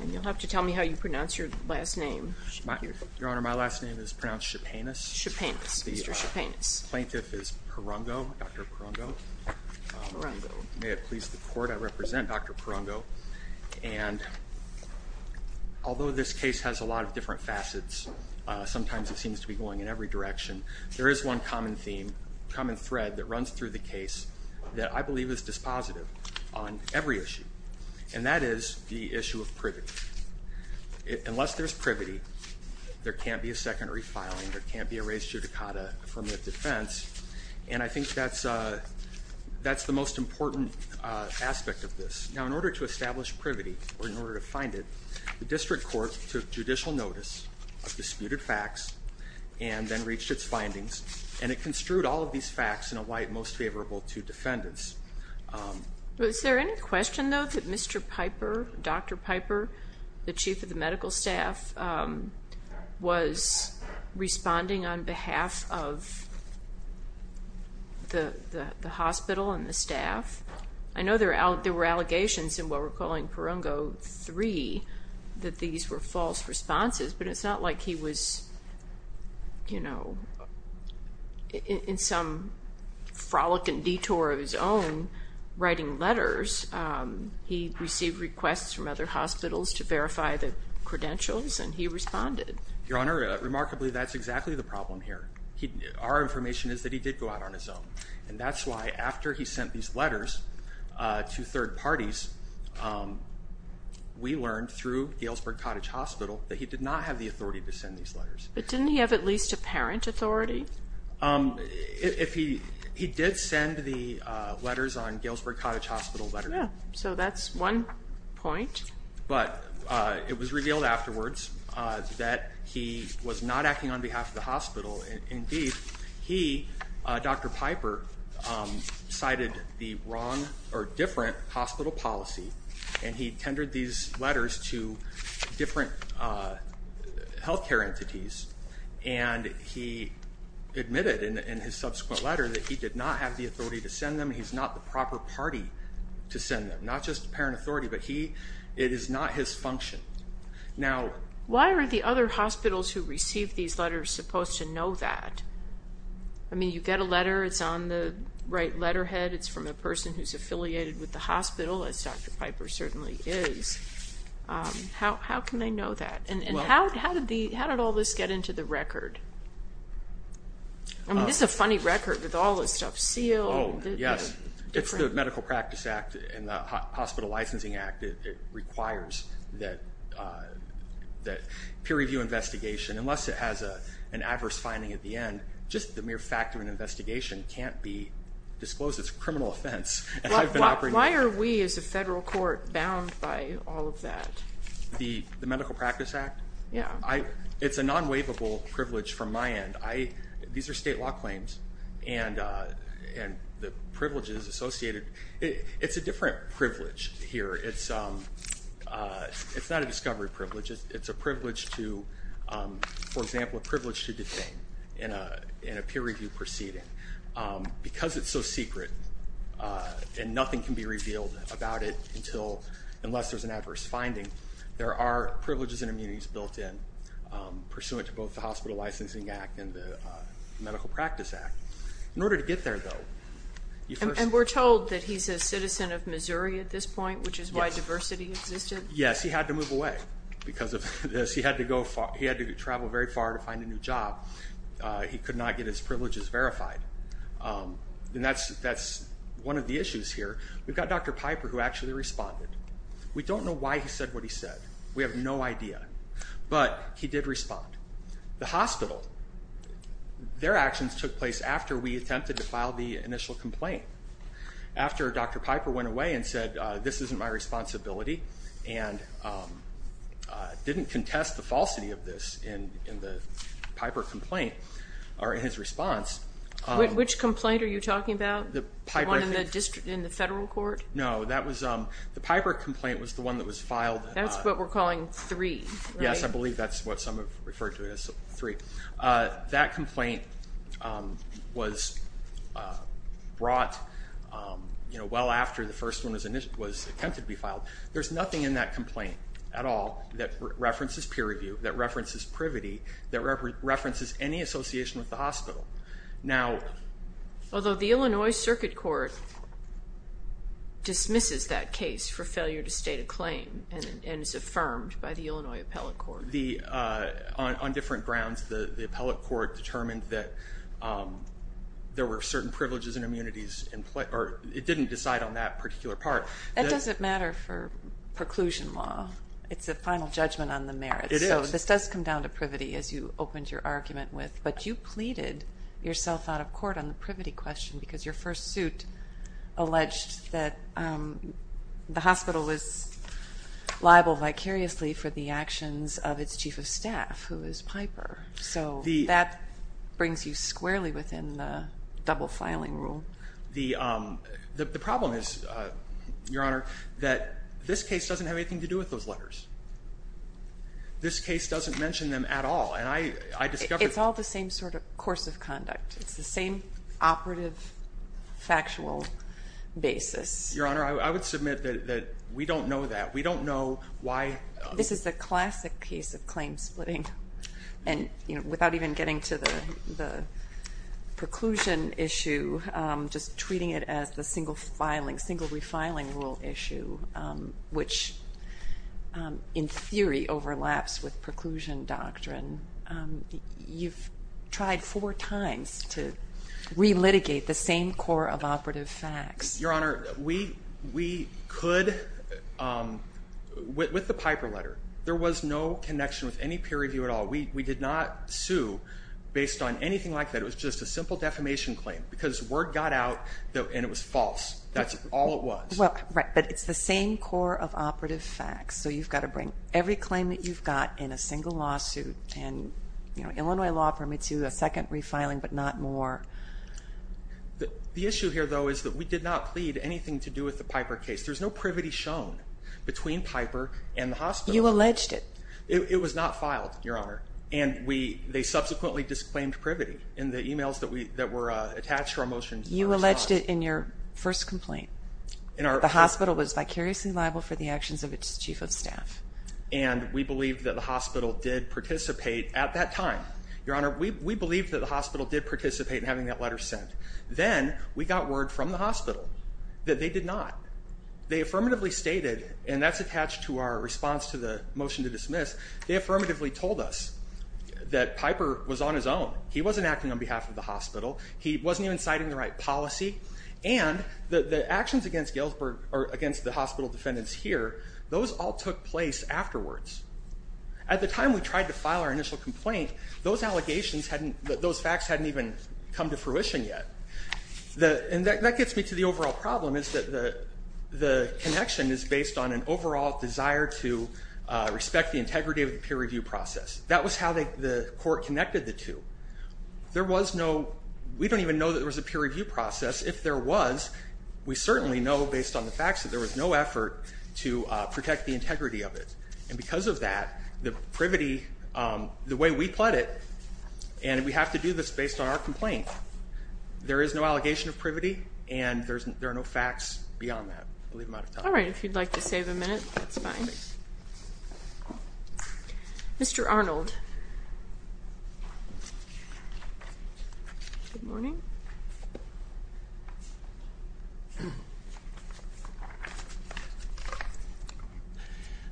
And you'll have to tell me how you pronounce your last name. Your Honor, my last name is pronounced Chepanis. Chepanis, Mr. Chepanis. The plaintiff is Parungao, Dr. Parungao. May it please the Court, I represent Dr. Parungao. And although this case has a lot of different facets, sometimes it seems to be going in every direction, there is one common theme, common thread that runs through the case that I believe is dispositive on every issue. And that is the issue of privity. Unless there's privity, there can't be a secondary filing, there can't be a res judicata from the defense. And I think that's the most important aspect of this. Now, in order to establish privity, or in order to find it, the district court took judicial notice of disputed facts and then reached its findings, and it construed all of these facts in a way most favorable to defendants. Is there any question, though, that Mr. Piper, Dr. Piper, the chief of the medical staff, was responding on behalf of the hospital and the staff? I know there were allegations in what we're calling Parungao 3 that these were false responses, but it's not like he was, you know, in some frolicking detour of his own writing letters. He received requests from other hospitals to verify the credentials, and he responded. Your Honor, remarkably, that's exactly the problem here. Our information is that he did go out on his own. And that's why after he sent these letters to third parties, we learned through Galesburg Cottage Hospital that he did not have the authority to send these letters. But didn't he have at least a parent authority? He did send the letters on Galesburg Cottage Hospital letter. So that's one point. But it was revealed afterwards that he was not acting on behalf of the hospital. Indeed, he, Dr. Piper, cited the wrong or different hospital policy, and he tendered these letters to different health care entities. And he admitted in his subsequent letter that he did not have the authority to send them. He's not the proper party to send them, not just the parent authority, but it is not his function. Now, why are the other hospitals who receive these letters supposed to know that? I mean, you get a letter, it's on the right letterhead, it's from a person who's affiliated with the hospital, as Dr. Piper certainly is. How can they know that? And how did all this get into the record? I mean, this is a funny record with all this stuff. Oh, yes. It's the Medical Practice Act and the Hospital Licensing Act. It requires that peer review investigation, unless it has an adverse finding at the end, just the mere fact of an investigation can't be disclosed as a criminal offense. Why are we as a federal court bound by all of that? The Medical Practice Act? Yeah. It's a non-waivable privilege from my end. These are state law claims, and the privileges associated, it's a different privilege here. It's not a discovery privilege. It's a privilege to, for example, a privilege to detain in a peer review proceeding. Because it's so secret and nothing can be revealed about it unless there's an adverse finding, there are privileges and immunities built in pursuant to both the Hospital Licensing Act and the Medical Practice Act. In order to get there, though, you first- And we're told that he's a citizen of Missouri at this point, which is why diversity existed? Yes. He had to move away because of this. He had to travel very far to find a new job. He could not get his privileges verified. And that's one of the issues here. We've got Dr. Piper who actually responded. We don't know why he said what he said. We have no idea. But he did respond. The hospital, their actions took place after we attempted to file the initial complaint. After Dr. Piper went away and said, this isn't my responsibility and didn't contest the falsity of this in the Piper complaint, or in his response- Which complaint are you talking about? The Piper- The one in the federal court? No. The Piper complaint was the one that was filed- That's what we're calling 3, right? Yes. I believe that's what some have referred to as 3. That complaint was brought well after the first one was attempted to be filed. There's nothing in that complaint at all that references peer review, that references privity, that references any association with the hospital. Although the Illinois Circuit Court dismisses that case for failure to state a claim and is affirmed by the Illinois Appellate Court. On different grounds, the Appellate Court determined that there were certain privileges and immunities. It didn't decide on that particular part. That doesn't matter for preclusion law. It's a final judgment on the merits. It is. This does come down to privity, as you opened your argument with. But you pleaded yourself out of court on the privity question because your first suit alleged that the hospital was liable vicariously for the actions of its chief of staff, who is Piper. So that brings you squarely within the double-filing rule. The problem is, Your Honor, that this case doesn't have anything to do with those letters. This case doesn't mention them at all. It's all the same sort of course of conduct. It's the same operative, factual basis. Your Honor, I would submit that we don't know that. We don't know why. This is the classic case of claim splitting. And without even getting to the preclusion issue, just treating it as the single refiling rule issue, which in theory overlaps with preclusion doctrine, you've tried four times to relitigate the same core of operative facts. Your Honor, we could, with the Piper letter, there was no connection with any peer review at all. We did not sue based on anything like that. It was just a simple defamation claim because word got out, and it was false. That's all it was. Right, but it's the same core of operative facts, so you've got to bring every claim that you've got in a single lawsuit. And Illinois law permits you a second refiling, but not more. The issue here, though, is that we did not plead anything to do with the Piper case. There's no privity shown between Piper and the hospital. You alleged it. It was not filed, Your Honor, and they subsequently disclaimed privity in the e-mails that were attached to our motions. You alleged it in your first complaint. The hospital was vicariously liable for the actions of its chief of staff. And we believed that the hospital did participate at that time. Your Honor, we believed that the hospital did participate in having that letter sent. Then we got word from the hospital that they did not. They affirmatively stated, and that's attached to our response to the motion to dismiss, they affirmatively told us that Piper was on his own. He wasn't acting on behalf of the hospital. He wasn't even citing the right policy. And the actions against the hospital defendants here, those all took place afterwards. At the time we tried to file our initial complaint, those facts hadn't even come to fruition yet. And that gets me to the overall problem, is that the connection is based on an overall desire to respect the integrity of the peer review process. That was how the court connected the two. There was no, we don't even know that there was a peer review process. If there was, we certainly know based on the facts that there was no effort to protect the integrity of it. And because of that, the privity, the way we pled it, and we have to do this based on our complaint. There is no allegation of privity, and there are no facts beyond that. I believe I'm out of time. All right, if you'd like to save a minute, that's fine. All right. Mr. Arnold. Good morning.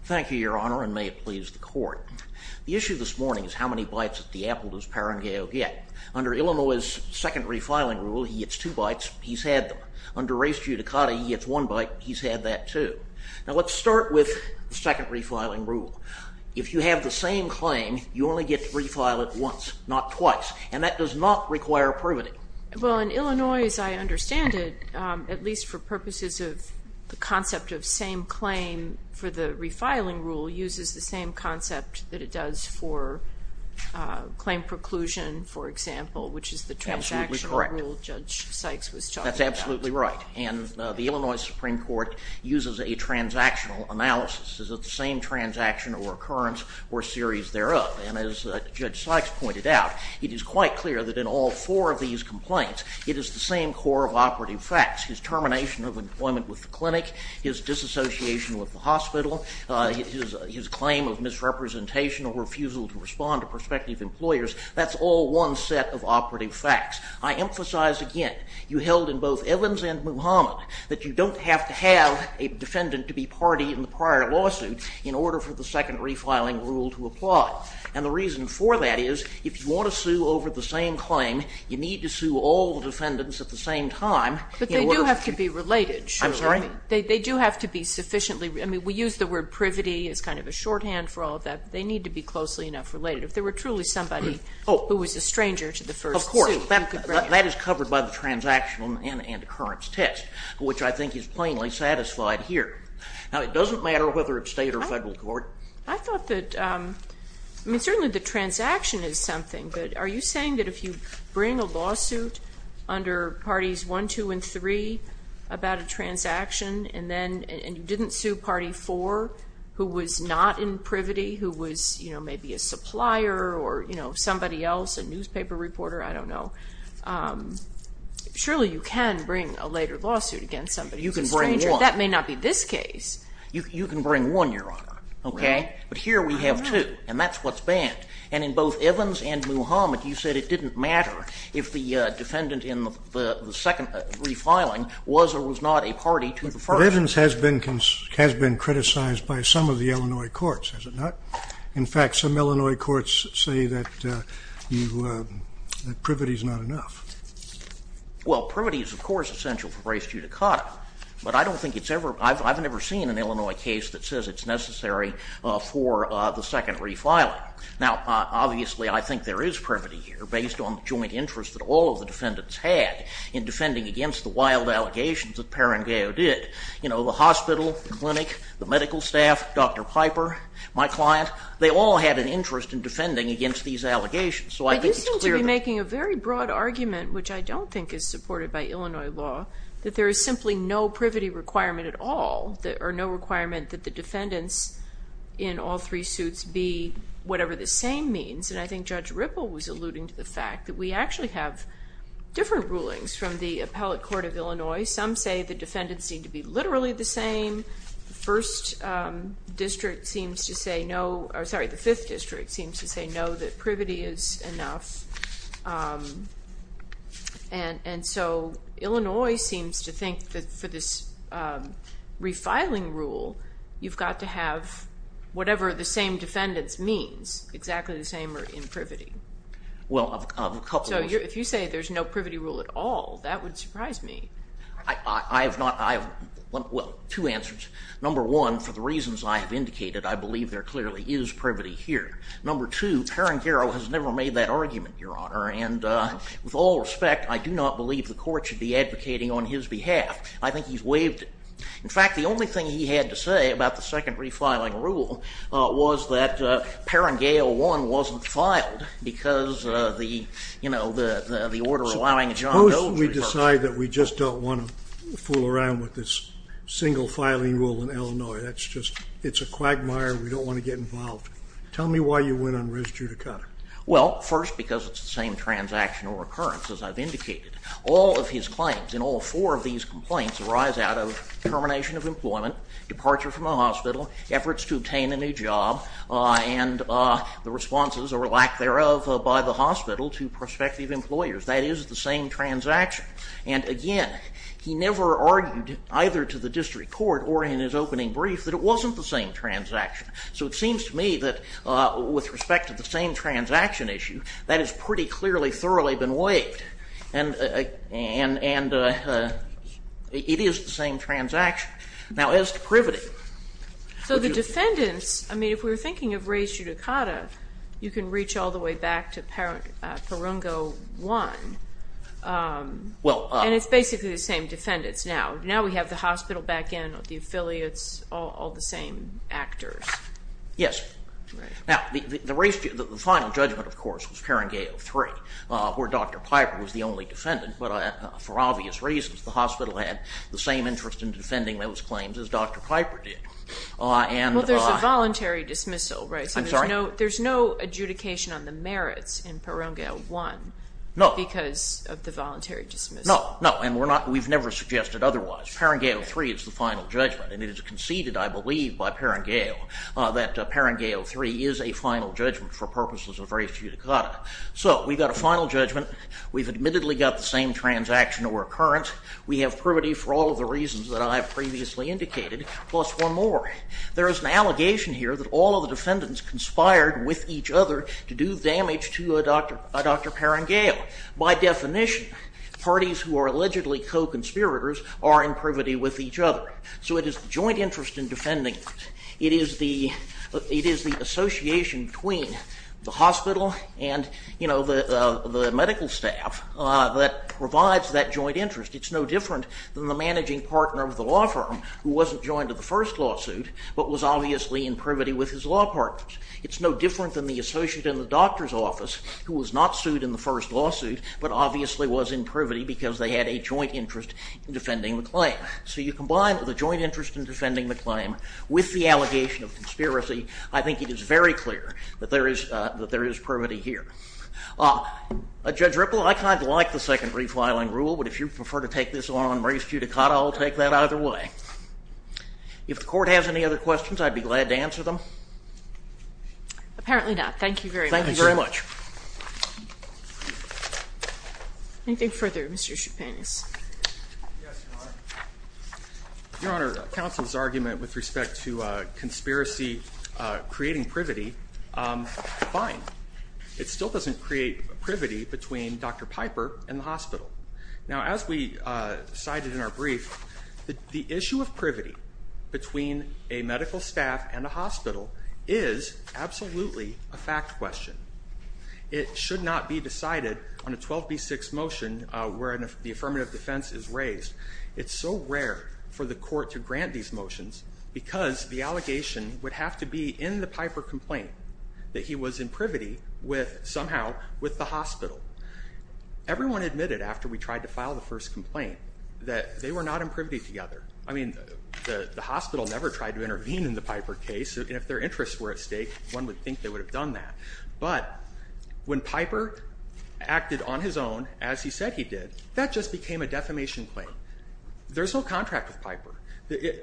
Thank you, Your Honor, and may it please the court. The issue this morning is how many bites of the apple does Parengeo get. Under Illinois' secondary filing rule, he gets two bites. He's had them. Under res judicata, he gets one bite. He's had that too. Now, let's start with the secondary filing rule. If you have the same claim, you only get to refile it once, not twice. And that does not require privity. Well, in Illinois, as I understand it, at least for purposes of the concept of same claim for the refiling rule, uses the same concept that it does for claim preclusion, for example, which is the transactional rule Judge Sykes was talking about. That's absolutely right. And the Illinois Supreme Court uses a transactional analysis. Is it the same transaction or occurrence or series thereof? And as Judge Sykes pointed out, it is quite clear that in all four of these complaints, it is the same core of operative facts, his termination of employment with the clinic, his disassociation with the hospital, his claim of misrepresentation or refusal to respond to prospective employers. That's all one set of operative facts. I emphasize again, you held in both Evans and Muhammad, that you don't have to have a defendant to be party in the prior lawsuit in order for the secondary filing rule to apply. And the reason for that is if you want to sue over the same claim, you need to sue all the defendants at the same time. But they do have to be related. I'm sorry? They do have to be sufficiently. I mean, we use the word privity as kind of a shorthand for all of that. They need to be closely enough related. If there were truly somebody who was a stranger to the first suit. That is covered by the transactional and occurrence test, which I think is plainly satisfied here. Now, it doesn't matter whether it's state or federal court. I thought that certainly the transaction is something. But are you saying that if you bring a lawsuit under Parties 1, 2, and 3 about a transaction and you didn't sue Party 4 who was not in privity, who was maybe a supplier or somebody else, a newspaper reporter, I don't know, surely you can bring a later lawsuit against somebody who's a stranger. You can bring one. That may not be this case. You can bring one, Your Honor. Okay? But here we have two. And that's what's banned. And in both Evans and Muhammad, you said it didn't matter if the defendant in the second refiling was or was not a party to the first. But Evans has been criticized by some of the Illinois courts, has it not? In fact, some Illinois courts say that privity is not enough. Well, privity is, of course, essential for race judicata. But I don't think it's ever been. I've never seen an Illinois case that says it's necessary for the second refiling. Now, obviously, I think there is privity here based on the joint interest that all of the defendants had in defending against the wild allegations that Parengeo did. You know, the hospital, the clinic, the medical staff, Dr. Piper, my client, they all had an interest in defending against these allegations. But you seem to be making a very broad argument, which I don't think is supported by Illinois law, that there is simply no privity requirement at all, or no requirement that the defendants in all three suits be whatever the same means. And I think Judge Ripple was alluding to the fact that we actually have different rulings from the appellate court of Illinois. Some say the defendants seem to be literally the same. The first district seems to say no, or sorry, the fifth district seems to say no, that privity is enough. And so Illinois seems to think that for this refiling rule, you've got to have whatever the same defendants means, exactly the same or in privity. So if you say there's no privity rule at all, that would surprise me. I have not, well, two answers. Number one, for the reasons I have indicated, I believe there clearly is privity here. Number two, Perringale has never made that argument, Your Honor. And with all respect, I do not believe the court should be advocating on his behalf. I think he's waived it. In fact, the only thing he had to say about the second refiling rule was that Perringale 1 wasn't filed, because, you know, the order allowing John Doe to refer to it. I'm sorry that we just don't want to fool around with this single filing rule in Illinois. That's just, it's a quagmire. We don't want to get involved. Tell me why you went on res judicata. Well, first, because it's the same transactional recurrence, as I've indicated. All of his claims in all four of these complaints arise out of termination of employment, departure from the hospital, efforts to obtain a new job, and the responses or lack thereof by the hospital to prospective employers. That is the same transaction. And, again, he never argued, either to the district court or in his opening brief, that it wasn't the same transaction. So it seems to me that with respect to the same transaction issue, that has pretty clearly, thoroughly been waived. And it is the same transaction. Now, as to privity. So the defendants, I mean, if we were thinking of res judicata, you can reach all the way back to Perungo 1. And it's basically the same defendants now. Now we have the hospital back in, the affiliates, all the same actors. Yes. Now, the final judgment, of course, was Perungo 3, where Dr. Piper was the only defendant. But for obvious reasons, the hospital had the same interest in defending those claims as Dr. Piper did. Well, there's a voluntary dismissal, right? I'm sorry? There's no adjudication on the merits in Perungo 1 because of the voluntary dismissal. No. And we've never suggested otherwise. Perungo 3 is the final judgment. And it is conceded, I believe, by Perungo that Perungo 3 is a final judgment for purposes of res judicata. So we've got a final judgment. We've admittedly got the same transaction or occurrence. We have privity for all of the reasons that I have previously indicated, plus one more. There is an allegation here that all of the defendants conspired with each other to do damage to Dr. Perungo. By definition, parties who are allegedly co-conspirators are in privity with each other. So it is the joint interest in defending. It is the association between the hospital and, you know, the medical staff that provides that joint interest. It's no different than the managing partner of the law firm who wasn't joined to the first lawsuit but was obviously in privity with his law partners. It's no different than the associate in the doctor's office who was not sued in the first lawsuit but obviously was in privity because they had a joint interest in defending the claim. So you combine the joint interest in defending the claim with the allegation of conspiracy. I think it is very clear that there is privity here. Judge Ripple, I kind of like the second refiling rule, but if you prefer to take this one on race judicata, I'll take that either way. If the court has any other questions, I'd be glad to answer them. Apparently not. Thank you very much. Thank you very much. Anything further? Mr. Chapin. Yes, Your Honor. Your Honor, counsel's argument with respect to conspiracy creating privity, fine. It still doesn't create privity between Dr. Piper and the hospital. Now as we cited in our brief, the issue of privity between a medical staff and a hospital is absolutely a fact question. It should not be decided on a 12B6 motion where the affirmative defense is raised. It's so rare for the court to grant these motions because the allegation would have to be in the Piper complaint that he was in privity with, somehow, with the hospital. Everyone admitted after we tried to file the first complaint that they were not in privity together. I mean, the hospital never tried to intervene in the Piper case, and if their interests were at stake, one would think they would have done that. But when Piper acted on his own, as he said he did, that just became a defamation claim. There's no contract with Piper.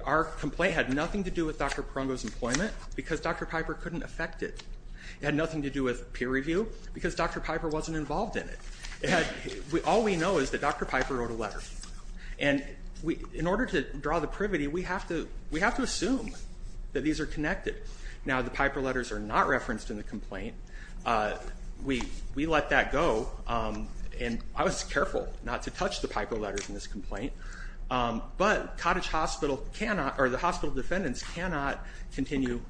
Our complaint had nothing to do with Dr. Perongo's employment because Dr. Piper couldn't affect it. It had nothing to do with peer review because Dr. Piper wasn't involved in it. All we know is that Dr. Piper wrote a letter. And in order to draw the privity, we have to assume that these are connected. Now, the Piper letters are not referenced in the complaint. We let that go, and I was careful not to touch the Piper letters in this complaint. But the hospital defendants cannot continue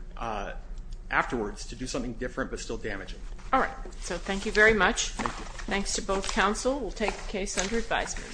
afterwards to do something different but still damaging. All right. So thank you very much. Thanks to both counsel. We'll take the case under advisement.